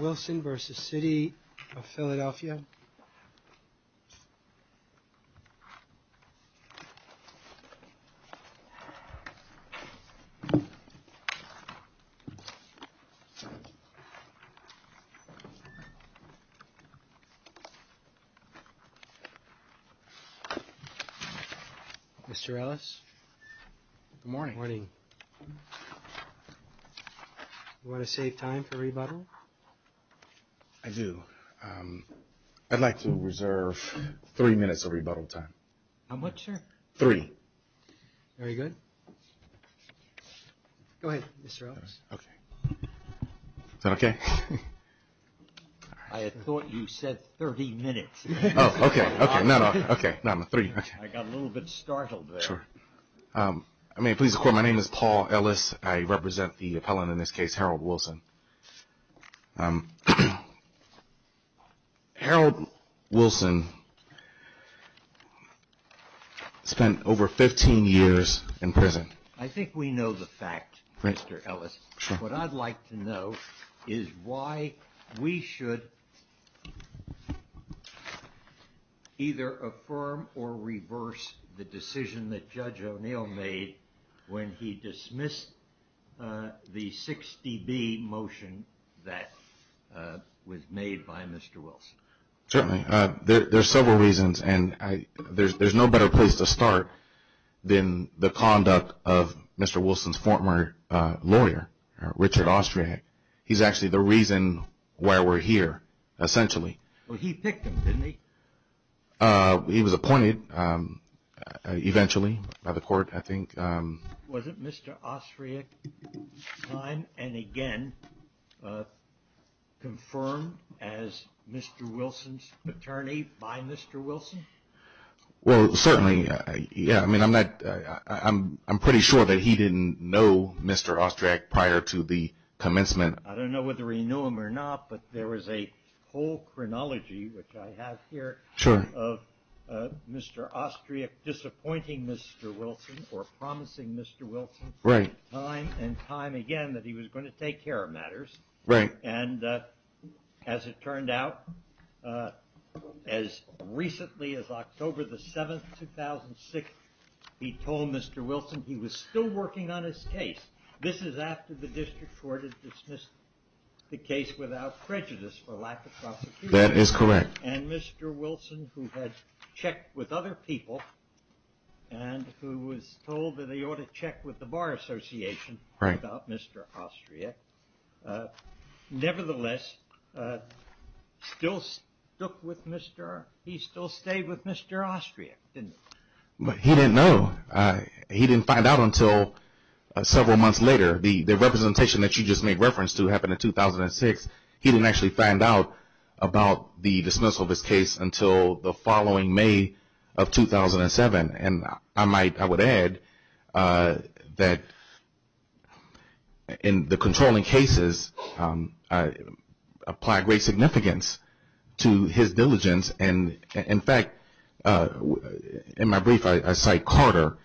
Wilson v. City of Philadelphia Mr. Ellis. Good morning. Good morning. You want to save time for rebuttal? I do. I'd like to reserve three minutes of rebuttal time. How much, sir? Three. Very good. Go ahead, Mr. Ellis. Okay. Is that okay? I had thought you said 30 minutes. Oh, okay. Okay. No, no. Okay. No, no. Three. Okay. I got a little bit startled there. Sure. May it please the court, my name is Paul Ellis. I represent the appellant in this case, Harold Wilson. Harold Wilson spent over 15 years in prison. I think we know the fact, Mr. Ellis. What I'd like to know is why we should either affirm or reverse the decision that Judge O'Neill made when he dismissed the 60B motion that was made by Mr. Wilson. Certainly. There are several reasons, and there's no better place to start than the conduct of Mr. Wilson's former lawyer, Richard Austriak. He's actually the reason why we're here, essentially. Well, he picked him, didn't he? He was appointed eventually by the court, I think. Was it Mr. Austriak's time, and again, confirmed as Mr. Wilson's attorney by Mr. Wilson? Well, certainly. Yeah. I mean, I'm pretty sure that he didn't know Mr. Austriak prior to the commencement. I don't know whether he knew him or not, but there was a whole chronology, which I have here. Sure. Of Mr. Austriak disappointing Mr. Wilson or promising Mr. Wilson time and time again that he was going to take care of matters. Right. And as it turned out, as recently as October 7, 2006, he told Mr. Wilson he was still working on his case. This is after the district court had dismissed the case without prejudice for lack of prosecution. That is correct. And Mr. Wilson, who had checked with other people and who was told that he ought to check with the Bar Association without Mr. Austriak, nevertheless, he still stayed with Mr. Austriak, didn't he? He didn't know. He didn't find out until several months later. The representation that you just made reference to happened in 2006. He didn't actually find out about the dismissal of his case until the following May of 2007. And I would add that in the controlling cases apply great significance to his diligence. In fact, in my brief, I cite Carter.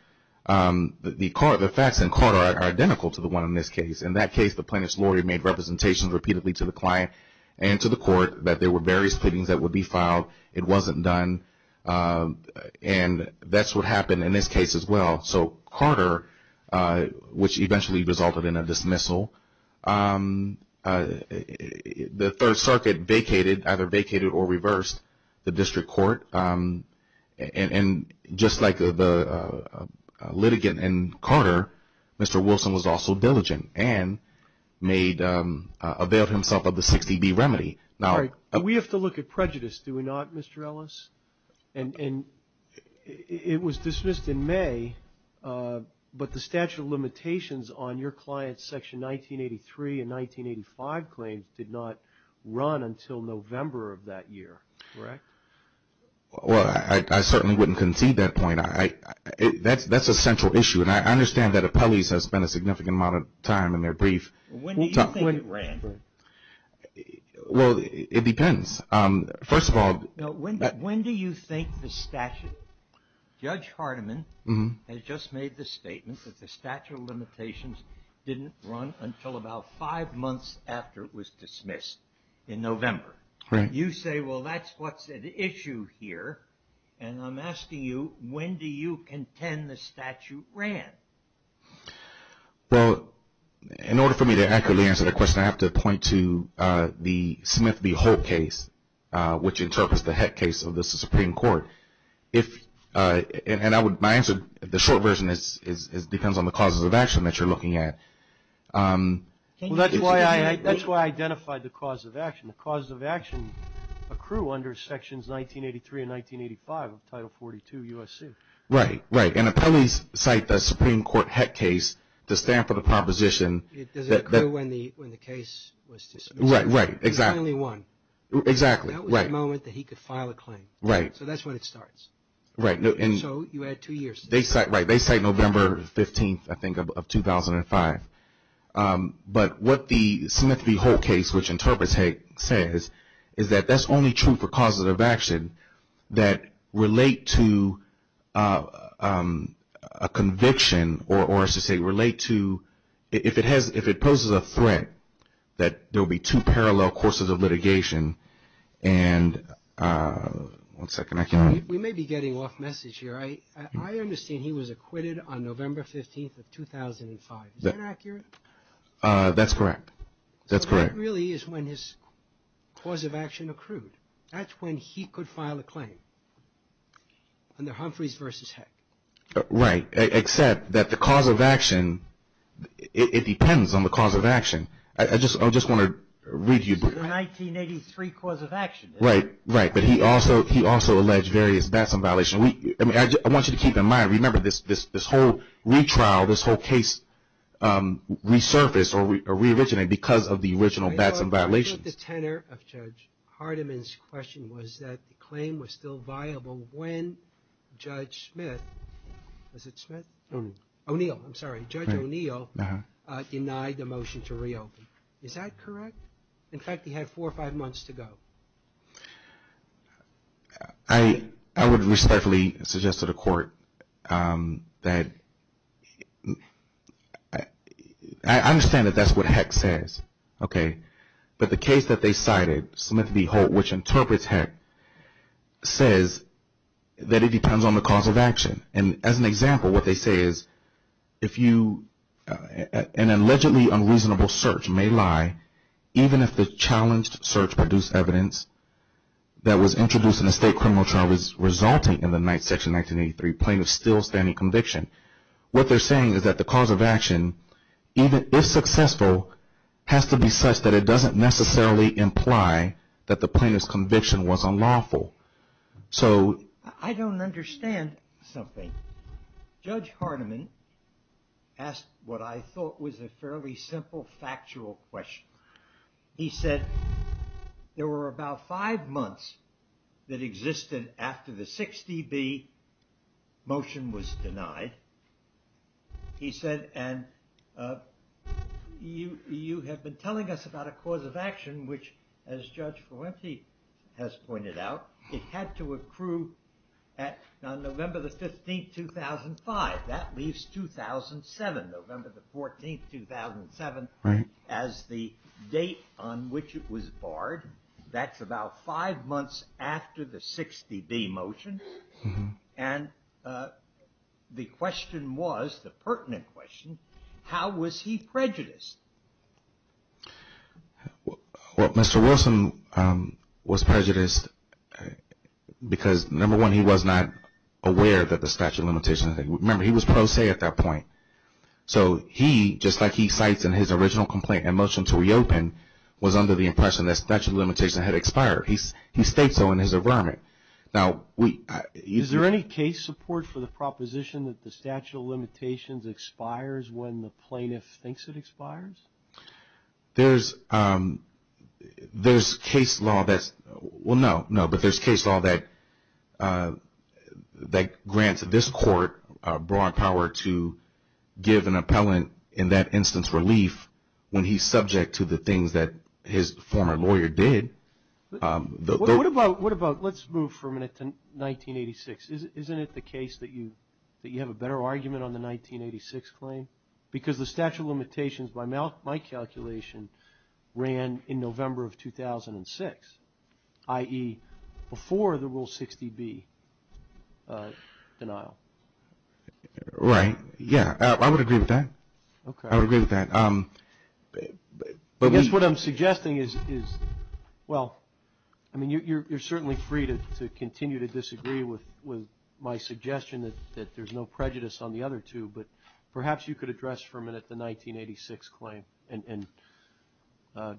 The facts in Carter are identical to the one in this case. In that case, the plaintiff's lawyer made representations repeatedly to the client and to the court that there were various cleanings that would be filed. It wasn't done. And that's what happened in this case as well. So Carter, which eventually resulted in a dismissal, the Third Circuit vacated, either vacated or reversed, the district court. And just like the litigant in Carter, Mr. Wilson was also diligent and made availed himself of the 60B remedy. We have to look at prejudice, do we not, Mr. Ellis? And it was dismissed in May, but the statute of limitations on your client's Section 1983 and 1985 claims did not run until November of that year, correct? Well, I certainly wouldn't concede that point. That's a central issue, and I understand that appellees have spent a significant amount of time in their brief. When do you think it ran? Well, it depends. First of all, when do you think the statute, Judge Hardiman has just made the statement that the statute of limitations didn't run until about five months after it was dismissed in November. You say, well, that's what's at issue here. And I'm asking you, when do you contend the statute ran? Well, in order for me to accurately answer the question, I have to point to the Smith v. Hope case, which interprets the Heck case of the Supreme Court. And my answer, the short version, depends on the causes of action that you're looking at. Well, that's why I identified the cause of action. The causes of action accrue under Sections 1983 and 1985 of Title 42 U.S.C. Right, right. And appellees cite the Supreme Court Heck case to stand for the proposition. It doesn't accrue when the case was dismissed. Right, right, exactly. There's only one. Exactly, right. That was the moment that he could file a claim. Right. So that's when it starts. Right. So you add two years. Right. They cite November 15th, I think, of 2005. But what the Smith v. Hope case, which interprets Heck, says is that that's only true for causes of action that relate to a conviction or, as you say, relate to, if it poses a threat, that there will be two parallel courses of litigation. And one second, I cannot. We may be getting off message here. I understand he was acquitted on November 15th of 2005. Is that accurate? That's correct. That's correct. But that really is when his cause of action accrued. That's when he could file a claim under Humphreys v. Heck. Right. Except that the cause of action, it depends on the cause of action. I just want to read you. This is a 1983 cause of action. Right, right. But he also alleged various batson violations. I want you to keep in mind. Remember, this whole retrial, this whole case resurfaced or reoriginated because of the original batson violations. I think the tenor of Judge Hardiman's question was that the claim was still viable when Judge Smith, was it Smith? O'Neill. O'Neill, I'm sorry. Judge O'Neill denied the motion to reopen. Is that correct? In fact, he had four or five months to go. I would respectfully suggest to the court that I understand that that's what Heck says. Okay. But the case that they cited, Smith v. Holt, which interprets Heck, says that it depends on the cause of action. And as an example, what they say is, if you, an allegedly unreasonable search may lie, even if the challenged search produced evidence that was introduced in a state criminal trial resulting in the Ninth Section 1983, plaintiff still standing conviction. What they're saying is that the cause of action, even if successful, has to be such that it doesn't necessarily imply that the plaintiff's conviction was unlawful. So I don't understand something. Judge Hardiman asked what I thought was a fairly simple factual question. He said there were about five months that existed after the 6dB motion was denied. He said, and you, you have been telling us about a cause of action which, as Judge Fuente has pointed out, it had to accrue at, on November the 15th, 2005. That leaves 2007, November the 14th, 2007. Right. As the date on which it was barred. That's about five months after the 6dB motion. And the question was, the pertinent question, how was he prejudiced? Well, Mr. Wilson was prejudiced because, number one, he was not aware that the statute of limitations had, remember, he was pro se at that point. So he, just like he cites in his original complaint and motion to reopen, was under the impression that statute of limitations had expired. He states so in his affirmant. Now, we. Is there any case support for the proposition that the statute of limitations expires when the plaintiff thinks it expires? There's, there's case law that's, well, no, no. But there's case law that, that grants this court broad power to give an appellant, in that instance, relief when he's subject to the things that his former lawyer did. What about, what about, let's move for a minute to 1986. Isn't it the case that you, that you have a better argument on the 1986 claim? Because the statute of limitations, by my calculation, ran in November of 2006, i.e., before the Rule 6dB denial. Right. Yeah, I would agree with that. Okay. I would agree with that. But we. I guess what I'm suggesting is, is, well, I mean, you're, you're certainly free to, to continue to disagree with, with my suggestion that, that there's no prejudice on the other two. But perhaps you could address for a minute the 1986 claim and, and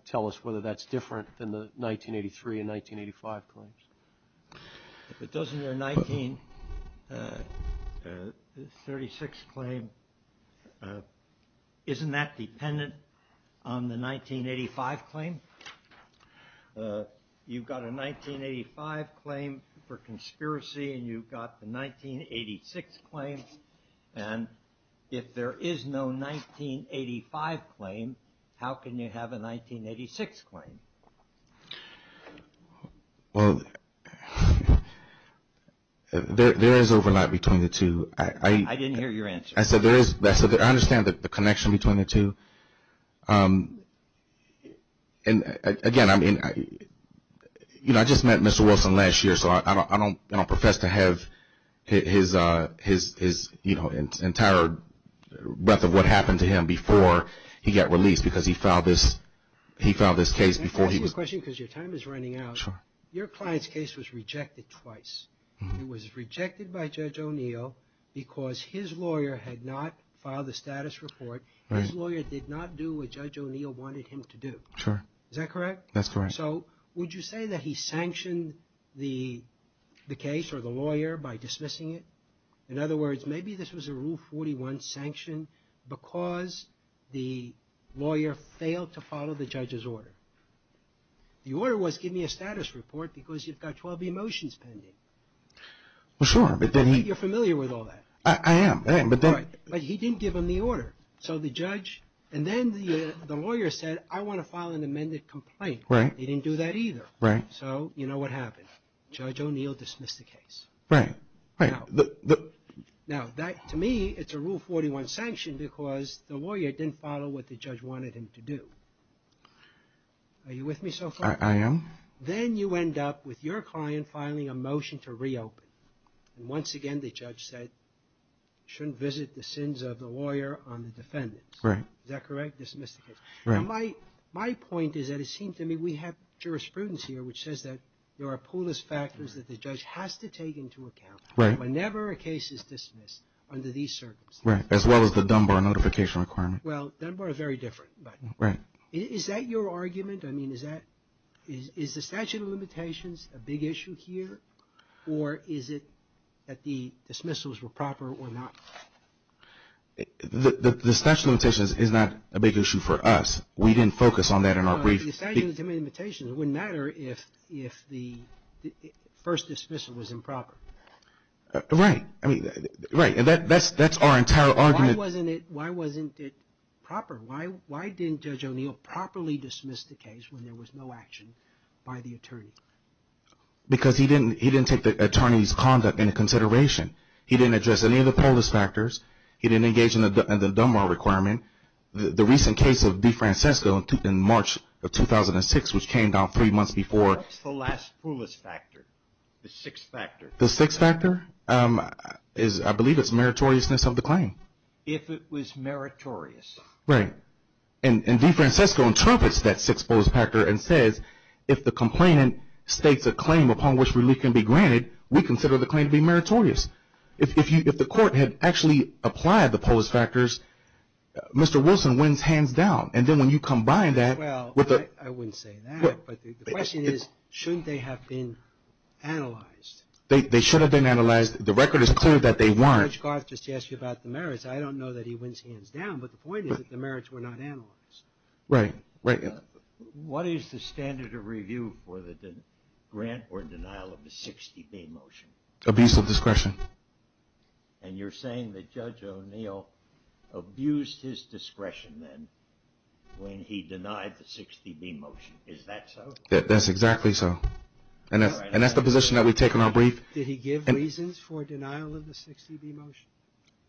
tell us whether that's different than the 1983 and 1985 claims. If it doesn't, your 1936 claim, isn't that dependent on the 1985 claim? You've got a 1985 claim for conspiracy and you've got the 1986 claim. And if there is no 1985 claim, how can you have a 1986 claim? Well, there, there is overlap between the two. I. I didn't hear your answer. I said there is, I said I understand the connection between the two. And again, I mean, you know, I just met Mr. Wilson last year, so I don't, I don't, I don't profess to have his, his, his, you know, entire breadth of what happened to him before he got released because he filed this, he filed this case before he was. Can I ask you a question because your time is running out? Sure. Your client's case was rejected twice. It was rejected by Judge O'Neill because his lawyer had not filed the status report. Right. His lawyer did not do what Judge O'Neill wanted him to do. Sure. Is that correct? That's correct. So would you say that he sanctioned the, the case or the lawyer by dismissing it? In other words, maybe this was a Rule 41 sanction because the lawyer failed to follow the judge's order. The order was give me a status report because you've got 12 e-motions pending. Well, sure, but then he. You're familiar with all that. I am, I am, but then. Right. But he didn't give him the order. So the judge, and then the, the lawyer said, I want to file an amended complaint. Right. He didn't do that either. Right. So you know what happened. Judge O'Neill dismissed the case. Right. Now, that, to me, it's a Rule 41 sanction because the lawyer didn't follow what the judge wanted him to do. Are you with me so far? I am. Then you end up with your client filing a motion to reopen. And once again, the judge said, shouldn't visit the sins of the lawyer on the defendants. Right. Is that correct? Dismissed the case. Right. My point is that it seems to me we have jurisprudence here which says that there are polis factors that the judge has to take into account. Right. Whenever a case is dismissed under these circumstances. Right. As well as the Dunbar notification requirement. Well, Dunbar is very different. Right. Is that your argument? I mean, is that, is the statute of limitations a big issue here or is it that the dismissals were proper or not? The statute of limitations is not a big issue for us. We didn't focus on that in our brief. The statute of limitations, it wouldn't matter if the first dismissal was improper. Right. I mean, right. That's our entire argument. Why wasn't it proper? Why didn't Judge O'Neill properly dismiss the case when there was no action by the attorney? Because he didn't take the attorney's conduct into consideration. He didn't address any of the polis factors. He didn't engage in the Dunbar requirement. The recent case of DeFrancisco in March of 2006, which came down three months before. What's the last polis factor? The sixth factor. The sixth factor? I believe it's meritoriousness of the claim. If it was meritorious. Right. And DeFrancisco interprets that sixth polis factor and says, if the complainant states a claim upon which relief can be granted, we consider the claim to be meritorious. If the court had actually applied the polis factors, Mr. Wilson wins hands down. And then when you combine that. Well, I wouldn't say that. But the question is, shouldn't they have been analyzed? They should have been analyzed. The record is clear that they weren't. Judge Garth just asked you about the merits. I don't know that he wins hands down. But the point is that the merits were not analyzed. Right. What is the standard of review for the grant or denial of the 60B motion? Abuse of discretion. And you're saying that Judge O'Neill abused his discretion then when he denied the 60B motion. Is that so? That's exactly so. And that's the position that we take in our brief. Did he give reasons for denial of the 60B motion?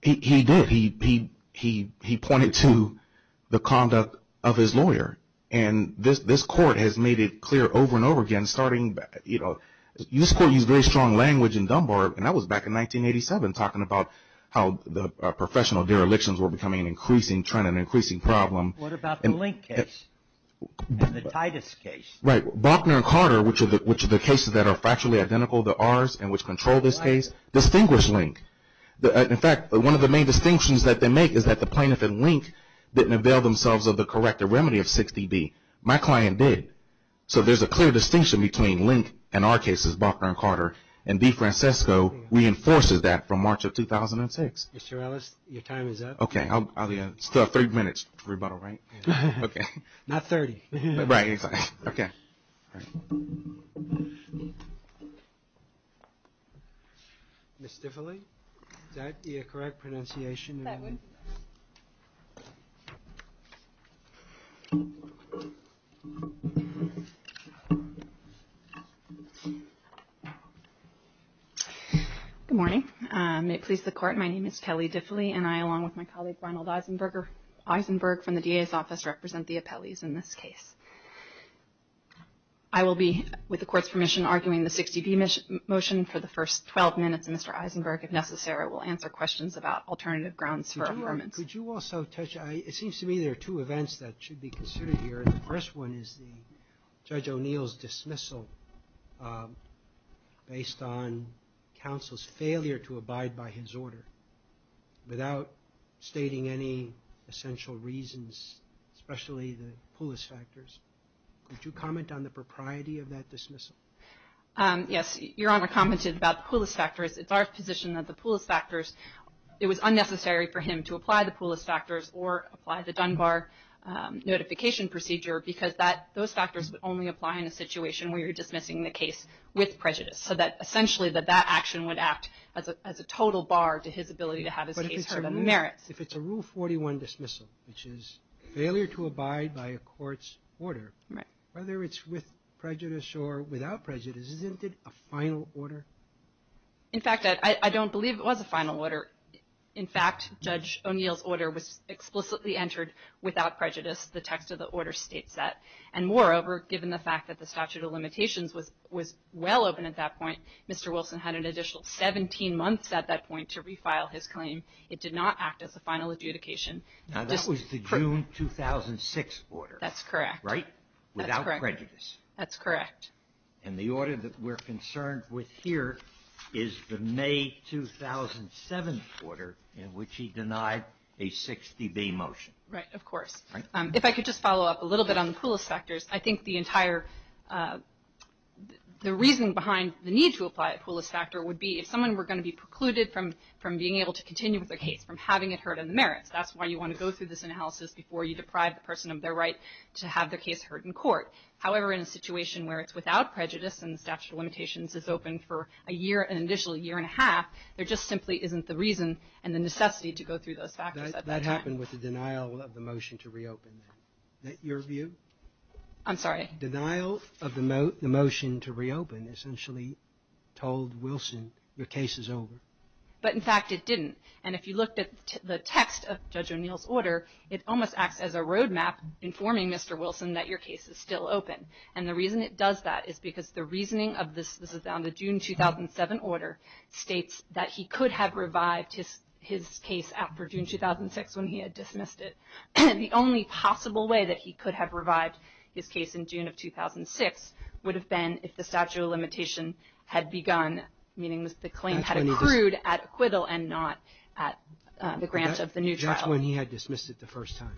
He did. He pointed to the conduct of his lawyer. And this court has made it clear over and over again, starting, you know, this court used very strong language in Dunbar, and that was back in 1987, talking about how the professional derelictions were becoming an increasing trend, an increasing problem. What about the Link case and the Titus case? Right. Bauchner and Carter, which are the cases that are factually identical to ours and which control this case, distinguish Link. In fact, one of the main distinctions that they make is that the plaintiff and Link didn't avail themselves of the corrective remedy of 60B. My client did. So there's a clear distinction between Link and our cases, Bauchner and Carter, and DeFrancisco reinforces that from March of 2006. Mr. Ellis, your time is up. Okay. Still have three minutes to rebuttal, right? Okay. Not 30. Right. Okay. Ms. Diffily, is that the correct pronunciation? That one. Good morning. May it please the Court, my name is Kelly Diffily, and I, along with my colleague Ronald Eisenberg from the DA's office, represent the appellees in this case. I will be, with the Court's permission, arguing the 60B motion for the first 12 minutes, and Mr. Eisenberg, if necessary, will answer questions about alternative grounds for affirmance. Could you also touch, it seems to me there are two events that should be considered here, and the first one is Judge O'Neill's dismissal based on counsel's failure to abide by his order without stating any essential reasons, especially the Poulos factors. Could you comment on the propriety of that dismissal? Yes. Your Honor commented about the Poulos factors. It's our position that the Poulos factors, it was unnecessary for him to apply the Poulos factors or apply the Dunbar notification procedure because those factors would only apply in a situation where you're dismissing the case with prejudice, so that essentially that that action would act as a total bar to his ability to have his case heard on the merits. If it's a Rule 41 dismissal, which is failure to abide by a court's order, whether it's with prejudice or without prejudice, isn't it a final order? In fact, I don't believe it was a final order. In fact, Judge O'Neill's order was explicitly entered without prejudice, the text of the order states that, and moreover, given the fact that the statute of limitations was well open at that point, Mr. Wilson had an additional 17 months at that point to refile his claim. It did not act as a final adjudication. Now, that was the June 2006 order. That's correct. Right? Without prejudice. That's correct. And the order that we're concerned with here is the May 2007 order in which he denied a 60B motion. Right. Of course. Right. If I could just follow up a little bit on the poolist factors, I think the entire reason behind the need to apply a poolist factor would be if someone were going to be precluded from being able to continue with their case, from having it heard on the merits, that's why you want to go through this analysis before you deprive the person of their right to have their case heard in court. However, in a situation where it's without prejudice and the statute of limitations is open for a year, an additional year and a half, there just simply isn't the reason and the necessity to go through those factors at that time. What happened with the denial of the motion to reopen then? Is that your view? I'm sorry? Denial of the motion to reopen essentially told Wilson your case is over. But, in fact, it didn't. And if you looked at the text of Judge O'Neill's order, it almost acts as a roadmap informing Mr. Wilson that your case is still open. And the reason it does that is because the reasoning of the June 2007 order states that he could have revived his case after June 2006 when he had dismissed it. The only possible way that he could have revived his case in June of 2006 would have been if the statute of limitation had begun, meaning the claim had accrued at acquittal and not at the grant of the new trial. That's when he had dismissed it the first time.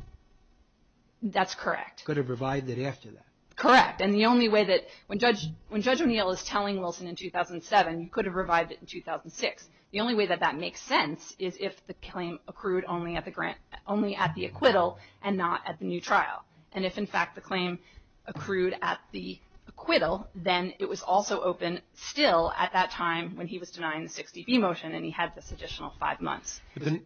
That's correct. Could have revived it after that. Correct. And the only way that when Judge O'Neill is telling Wilson in 2007, you could have revived it in 2006, the only way that that makes sense is if the claim accrued only at the acquittal and not at the new trial. And if, in fact, the claim accrued at the acquittal, then it was also open still at that time when he was denying the 60B motion and he had this additional five months. The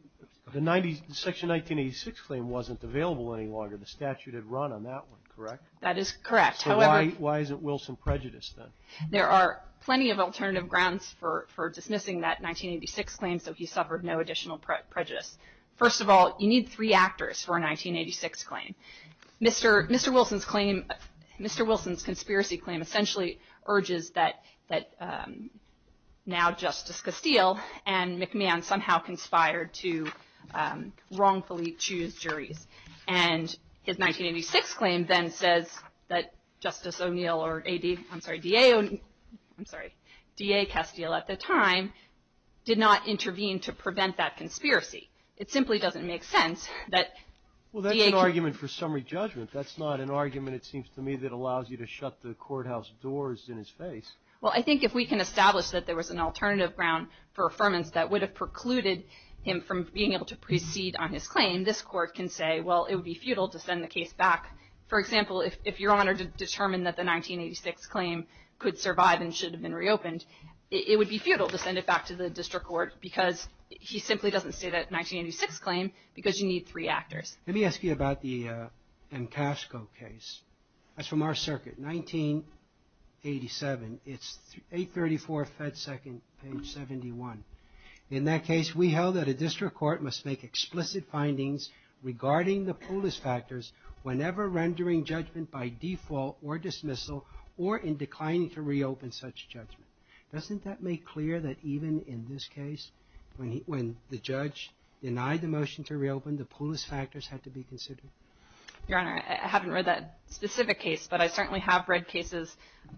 section 1986 claim wasn't available any longer. The statute had run on that one, correct? That is correct. So why is it Wilson prejudice then? There are plenty of alternative grounds for dismissing that 1986 claim so he suffered no additional prejudice. First of all, you need three actors for a 1986 claim. Mr. Wilson's conspiracy claim essentially urges that now Justice Castile and McMahon somehow conspired to wrongfully choose juries. And his 1986 claim then says that Justice O'Neill or D.A. Castile at the time did not intervene to prevent that conspiracy. It simply doesn't make sense that D.A. Well, that's an argument for summary judgment. That's not an argument, it seems to me, that allows you to shut the courthouse doors in his face. Well, I think if we can establish that there was an alternative ground for affirmance that would have precluded him from being able to proceed on his claim, this court can say, well, it would be futile to send the case back. For example, if Your Honor determined that the 1986 claim could survive and should have been reopened, it would be futile to send it back to the district court because he simply doesn't say that 1986 claim because you need three actors. Let me ask you about the McCaskill case. That's from our circuit, 1987. It's 834 Fed Second, page 71. In that case, we held that a district court must make explicit findings regarding the Poulos factors whenever rendering judgment by default or dismissal or in declining to reopen such judgment. Doesn't that make clear that even in this case, when the judge denied the motion to reopen, the Poulos factors had to be considered? Your Honor, I haven't read that specific case, but I certainly have read cases.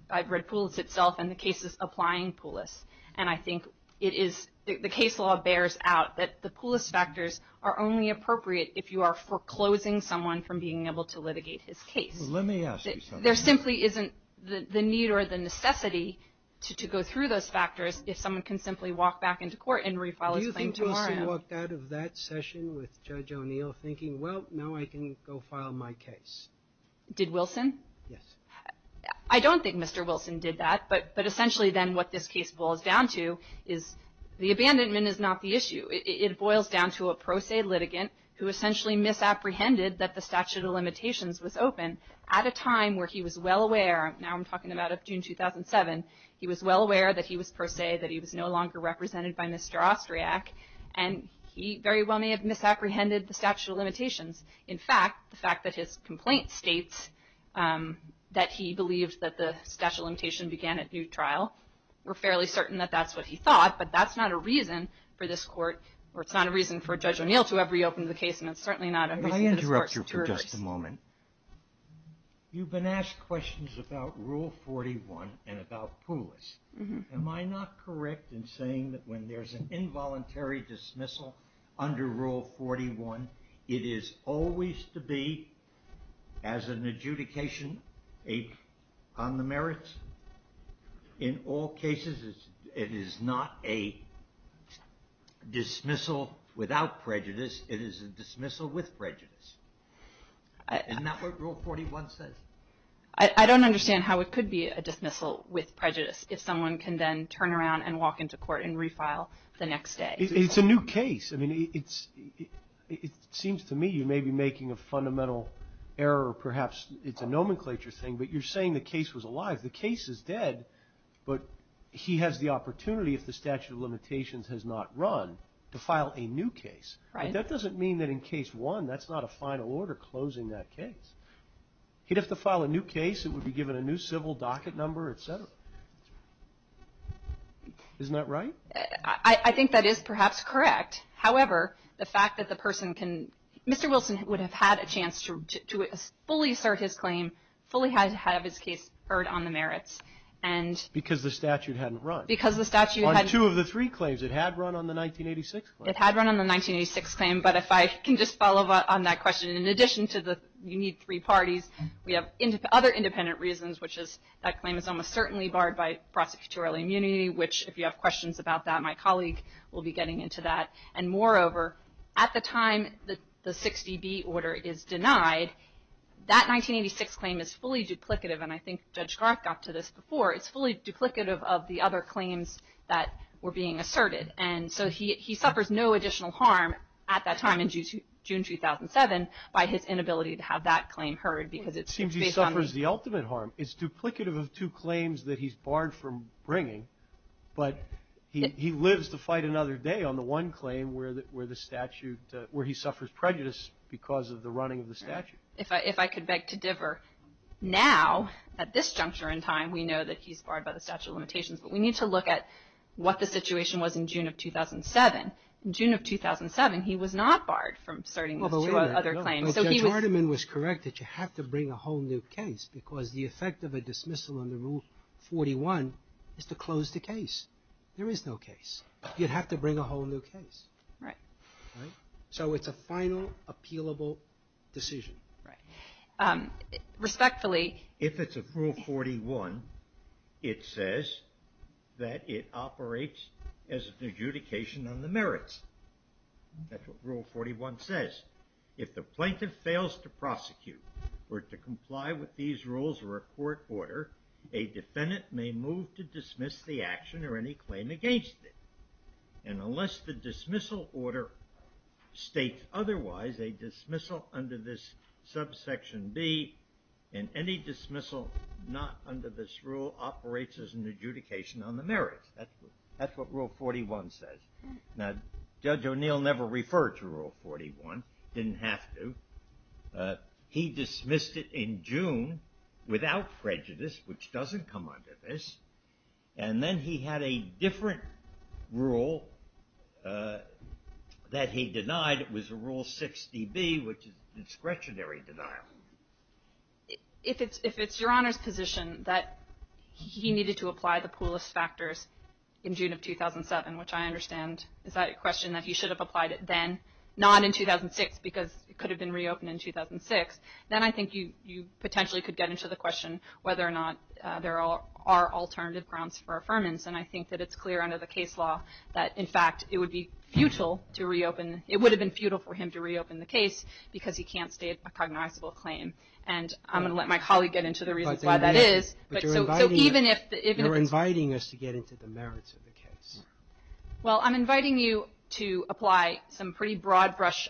I've read Poulos itself and the cases applying Poulos. And I think it is the case law bears out that the Poulos factors are only appropriate if you are foreclosing someone from being able to litigate his case. Let me ask you something. There simply isn't the need or the necessity to go through those factors if someone can simply walk back into court and refile his claim tomorrow. Do you think Wilson walked out of that session with Judge O'Neill thinking, well, now I can go file my case? Did Wilson? Yes. I don't think Mr. Wilson did that. But essentially then what this case boils down to is the abandonment is not the issue. It boils down to a pro se litigant who essentially misapprehended that the statute of limitations was open at a time where he was well aware. Now I'm talking about June 2007. He was well aware that he was pro se, that he was no longer represented by Mr. Austriac, and he very well may have misapprehended the statute of limitations. In fact, the fact that his complaint states that he believed that the statute of limitation began at due trial, we're fairly certain that that's what he thought, but that's not a reason for this court, or it's not a reason for Judge O'Neill to have reopened the case, and it's certainly not a reason for the court's jurors. Let me interrupt you for just a moment. You've been asked questions about Rule 41 and about Poulos. Am I not correct in saying that when there's an involuntary dismissal under Rule 41, it is always to be, as an adjudication on the merits, in all cases, it is not a dismissal without prejudice. It is a dismissal with prejudice. Isn't that what Rule 41 says? I don't understand how it could be a dismissal with prejudice if someone can then turn around and walk into court and refile the next day. It's a new case. I mean, it seems to me you may be making a fundamental error, or perhaps it's a nomenclature thing, but you're saying the case was alive. The case is dead, but he has the opportunity, if the statute of limitations has not run, to file a new case. But that doesn't mean that in Case 1 that's not a final order closing that case. He'd have to file a new case. It would be given a new civil docket number, et cetera. Isn't that right? I think that is perhaps correct. However, the fact that the person can – Mr. Wilson would have had a chance to fully assert his claim, fully have his case heard on the merits. Because the statute hadn't run. Because the statute hadn't. On two of the three claims, it had run on the 1986 claim. It had run on the 1986 claim, but if I can just follow up on that question, in addition to the you need three parties, we have other independent reasons, which is that claim is almost certainly barred by prosecutorial immunity, which if you have questions about that, my colleague will be getting into that. And moreover, at the time the 60B order is denied, that 1986 claim is fully duplicative. And I think Judge Garth got to this before. It's fully duplicative of the other claims that were being asserted. And so he suffers no additional harm at that time in June 2007 by his inability to have that claim heard. It seems he suffers the ultimate harm. It's duplicative of two claims that he's barred from bringing, but he lives to fight another day on the one claim where the statute, where he suffers prejudice because of the running of the statute. If I could beg to differ. Now, at this juncture in time, we know that he's barred by the statute of limitations, but we need to look at what the situation was in June of 2007. In June of 2007, he was not barred from asserting those two other claims. Judge Artiman was correct that you have to bring a whole new case because the effect of a dismissal under Rule 41 is to close the case. There is no case. You'd have to bring a whole new case. Right. Right? So it's a final, appealable decision. Right. Respectfully. If it's a Rule 41, it says that it operates as an adjudication on the merits. That's what Rule 41 says. If the plaintiff fails to prosecute or to comply with these rules or a court order, a defendant may move to dismiss the action or any claim against it. And unless the dismissal order states otherwise, a dismissal under this subsection B and any dismissal not under this rule operates as an adjudication on the merits. That's what Rule 41 says. Now, Judge O'Neill never referred to Rule 41. Didn't have to. He dismissed it in June without prejudice, which doesn't come under this. And then he had a different rule that he denied. It was a Rule 6dB, which is discretionary denial. If it's your Honor's position that he needed to apply the poorest factors in June of 2007, which I understand is that question, that he should have applied it then, not in 2006 because it could have been reopened in 2006, then I think you potentially could get into the question whether or not there are alternative grounds for affirmance. And I think that it's clear under the case law that, in fact, it would be futile to reopen. It would have been futile for him to reopen the case because he can't state a cognizable claim. And I'm going to let my colleague get into the reasons why that is. But you're inviting us to get into the merits of the case. Well, I'm inviting you to apply a pretty broad-brush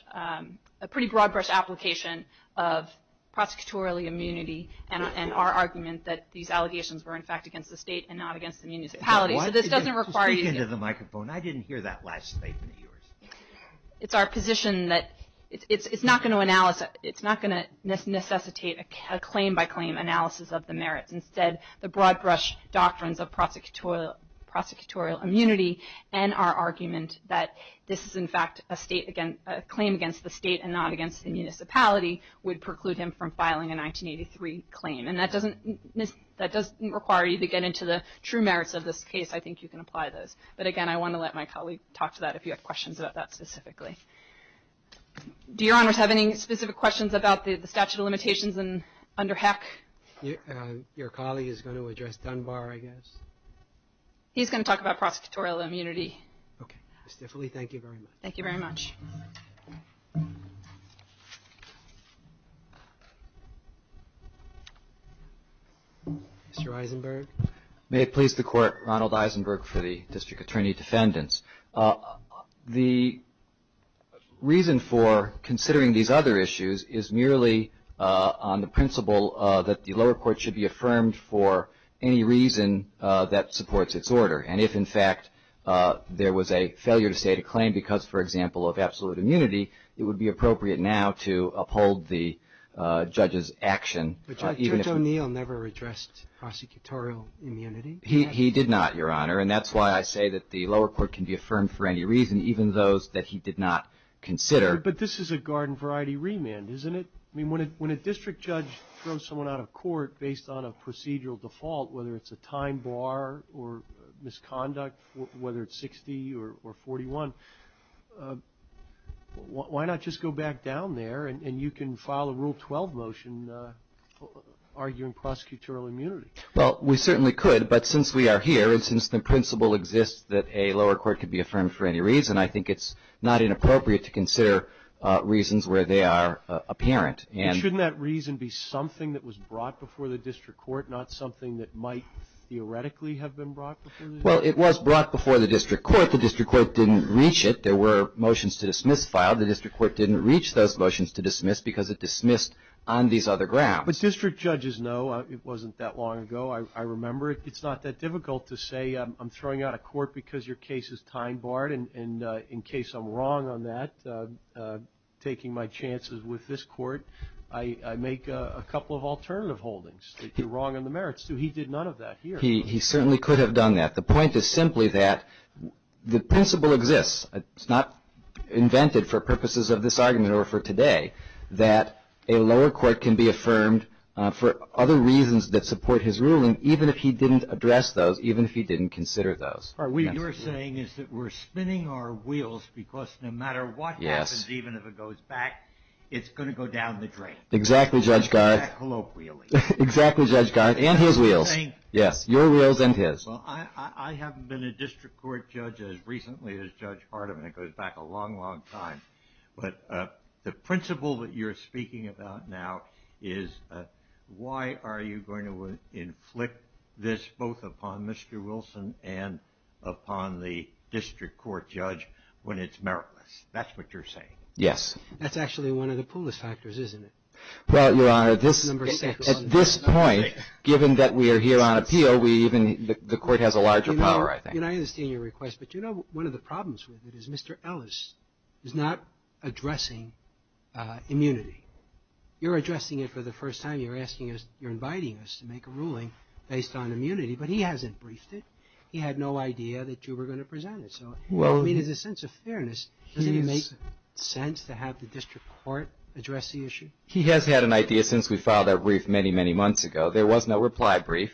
application of prosecutorial immunity and our argument that these allegations were, in fact, against the state and not against the municipality. So this doesn't require you to speak into the microphone. I didn't hear that last statement of yours. It's our position that it's not going to necessitate a claim-by-claim analysis of the merits. Instead, the broad-brush doctrines of prosecutorial immunity and our argument that this is, in fact, a claim against the state and not against the municipality, would preclude him from filing a 1983 claim. And that doesn't require you to get into the true merits of this case. I think you can apply those. But, again, I want to let my colleague talk to that if you have questions about that specifically. Do Your Honors have any specific questions about the statute of limitations under HECC? Your colleague is going to address Dunbar, I guess. He's going to talk about prosecutorial immunity. Okay. Ms. Tiffoli, thank you very much. Thank you very much. Mr. Eisenberg. May it please the Court, Ronald Eisenberg for the District Attorney Defendants. The reason for considering these other issues is merely on the principle that the lower court should be affirmed for any reason that supports its order. And if, in fact, there was a failure to state a claim because, for example, of absolute immunity, it would be appropriate now to uphold the judge's action. But Judge O'Neill never addressed prosecutorial immunity. He did not, Your Honor. And that's why I say that the lower court can be affirmed for any reason, even those that he did not consider. But this is a garden variety remand, isn't it? I mean, when a district judge throws someone out of court based on a procedural default, whether it's a time bar or misconduct, whether it's 60 or 41, why not just go back down there and you can file a Rule 12 motion arguing prosecutorial immunity? Well, we certainly could. But since we are here and since the principle exists that a lower court could be affirmed for any reason, I think it's not inappropriate to consider reasons where they are apparent. Shouldn't that reason be something that was brought before the district court, not something that might theoretically have been brought before the district court? Well, it was brought before the district court. The district court didn't reach it. There were motions to dismiss filed. The district court didn't reach those motions to dismiss because it dismissed on these other grounds. But district judges know. It wasn't that long ago. I remember it. It's not that difficult to say I'm throwing out of court because your case is time barred. And in case I'm wrong on that, taking my chances with this court, I make a couple of alternative holdings that you're wrong on the merits to. He did none of that here. He certainly could have done that. The point is simply that the principle exists. It's not invented for purposes of this argument or for today that a lower court can be affirmed for other reasons that support his ruling, even if he didn't address those, even if he didn't consider those. What you're saying is that we're spinning our wheels because no matter what happens, even if it goes back, it's going to go down the drain. Exactly, Judge Gard. And his wheels. Yes, your wheels and his. I haven't been a district court judge as recently as Judge Hardeman. It goes back a long, long time. But the principle that you're speaking about now is why are you going to inflict this both upon Mr. Wilson and upon the district court judge when it's meritless? That's what you're saying. Yes. That's actually one of the poorest factors, isn't it? Well, your Honor, at this point, given that we are here on appeal, the court has a larger power, I think. I understand your request, but you know one of the problems with it is Mr. Ellis is not addressing immunity. You're addressing it for the first time. You're asking us, you're inviting us to make a ruling based on immunity, but he hasn't briefed it. He had no idea that you were going to present it. So, I mean, in a sense of fairness, doesn't it make sense to have the district court address the issue? He has had an idea since we filed that brief many, many months ago. There was no reply brief.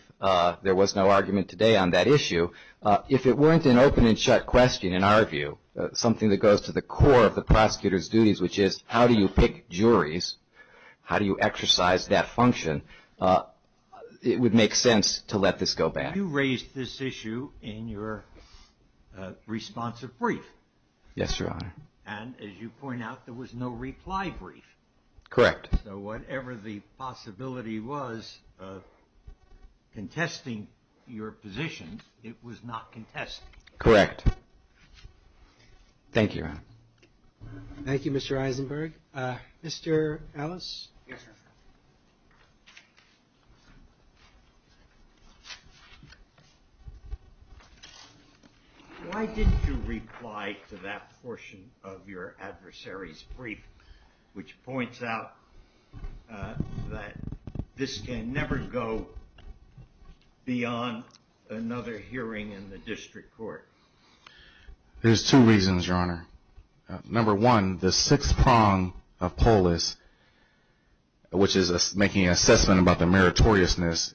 There was no argument today on that issue. If it weren't an open and shut question, in our view, something that goes to the core of the prosecutor's duties, which is how do you pick juries, how do you exercise that function, it would make sense to let this go back. You raised this issue in your responsive brief. Yes, Your Honor. And as you point out, there was no reply brief. Correct. So whatever the possibility was of contesting your position, it was not contested. Correct. Thank you, Your Honor. Thank you, Mr. Eisenberg. Mr. Ellis? Yes, sir. Why didn't you reply to that portion of your adversary's brief, which points out that this can never go beyond another hearing in the district court? There's two reasons, Your Honor. Number one, the sixth prong of POLIS, which is making an assessment about the meritoriousness,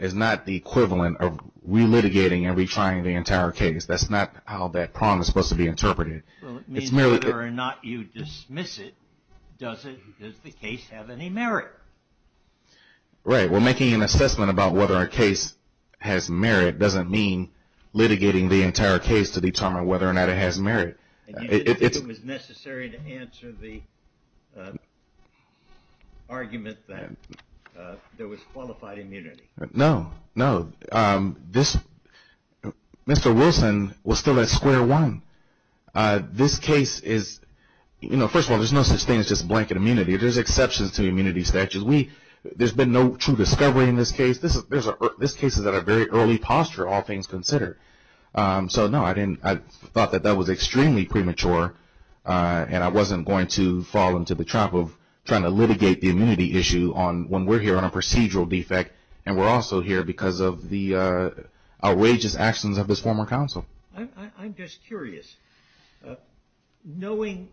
is not the equivalent of relitigating and retrying the entire case. That's not how that prong is supposed to be interpreted. It means whether or not you dismiss it, does the case have any merit? Right. Well, making an assessment about whether a case has merit doesn't mean litigating the entire case to determine whether or not it has merit. And you didn't think it was necessary to answer the argument that there was qualified immunity? No, no. Mr. Wilson was still at square one. This case is, you know, first of all, there's no such thing as just blanket immunity. There's exceptions to the immunity statute. There's been no true discovery in this case. This case is at a very early posture, all things considered. So, no, I thought that that was extremely premature, and I wasn't going to fall into the trap of trying to litigate the immunity issue when we're here on a procedural defect, and we're also here because of the outrageous actions of this former counsel. I'm just curious. Knowing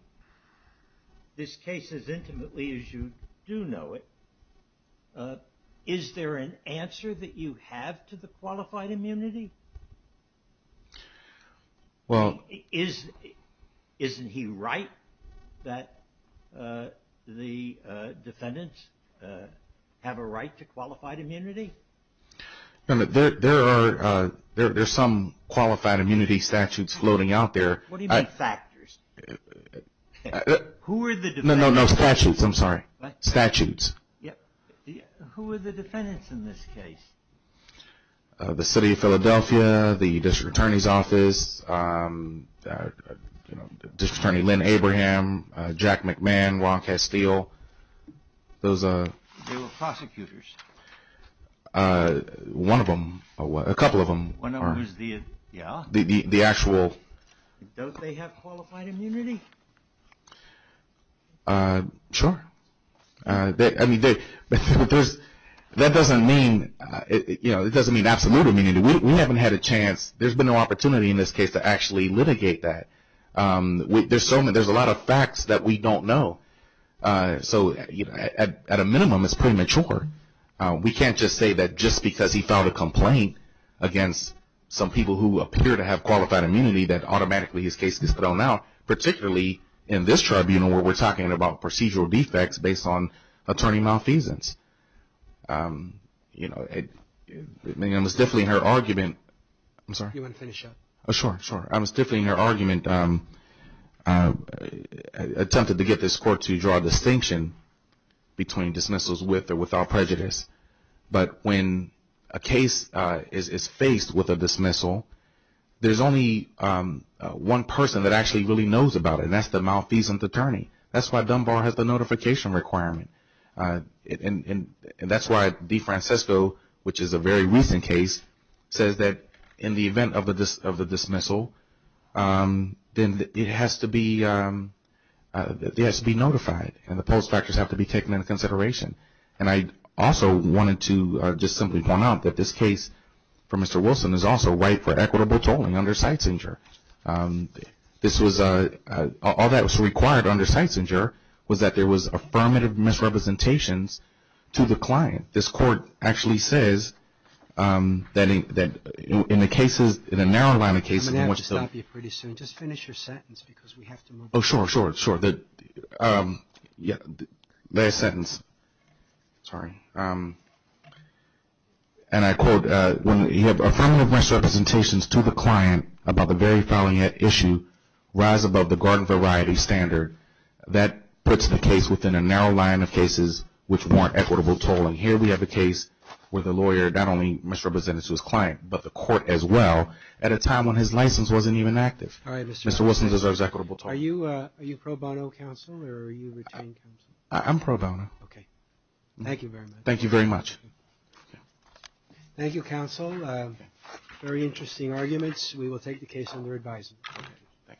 this case as intimately as you do know it, is there an answer that you have to the qualified immunity? Isn't he right that the defendants have a right to qualified immunity? There are some qualified immunity statutes floating out there. What do you mean, factors? Who are the defendants? No, no, no, statutes. I'm sorry. Statutes. Who are the defendants in this case? The city of Philadelphia, the district attorney's office, district attorney Lynn Abraham, Jack McMahon, Ron Castile. They were prosecutors. One of them, a couple of them. One of them is the, yeah. The actual. Don't they have qualified immunity? Sure. I mean, that doesn't mean absolute immunity. I mean, we haven't had a chance. There's been no opportunity in this case to actually litigate that. There's a lot of facts that we don't know. So at a minimum, it's premature. We can't just say that just because he filed a complaint against some people who appear to have qualified immunity that automatically his case gets thrown out, particularly in this tribunal where we're talking about procedural defects based on attorney malfeasance. You know, I was definitely in her argument. I'm sorry. You want to finish up? Sure, sure. I was definitely in her argument, attempted to get this court to draw a distinction between dismissals with or without prejudice. But when a case is faced with a dismissal, there's only one person that actually really knows about it, and that's the malfeasance attorney. That's why Dunbar has the notification requirement. And that's why DeFrancisco, which is a very recent case, says that in the event of a dismissal, then it has to be notified and the post-factors have to be taken into consideration. And I also wanted to just simply point out that this case for Mr. Wilson is also right for equitable tolling under Seitzinger. All that was required under Seitzinger was that there was affirmative misrepresentations to the client. This court actually says that in the cases, in a narrow line of cases. I'm going to have to stop you pretty soon. Just finish your sentence because we have to move on. Oh, sure, sure, sure. Last sentence. Sorry. And I quote, when you have affirmative misrepresentations to the client about the very following issue, rise above the garden variety standard, that puts the case within a narrow line of cases which warrant equitable tolling. Here we have a case where the lawyer not only misrepresented to his client, but the court as well, at a time when his license wasn't even active. Mr. Wilson deserves equitable tolling. Are you pro bono counsel or are you retained counsel? I'm pro bono. Okay. Thank you very much. Thank you very much. Thank you, counsel. Very interesting arguments. We will take the case under advisement. Thank you. Congratulations. Thank you.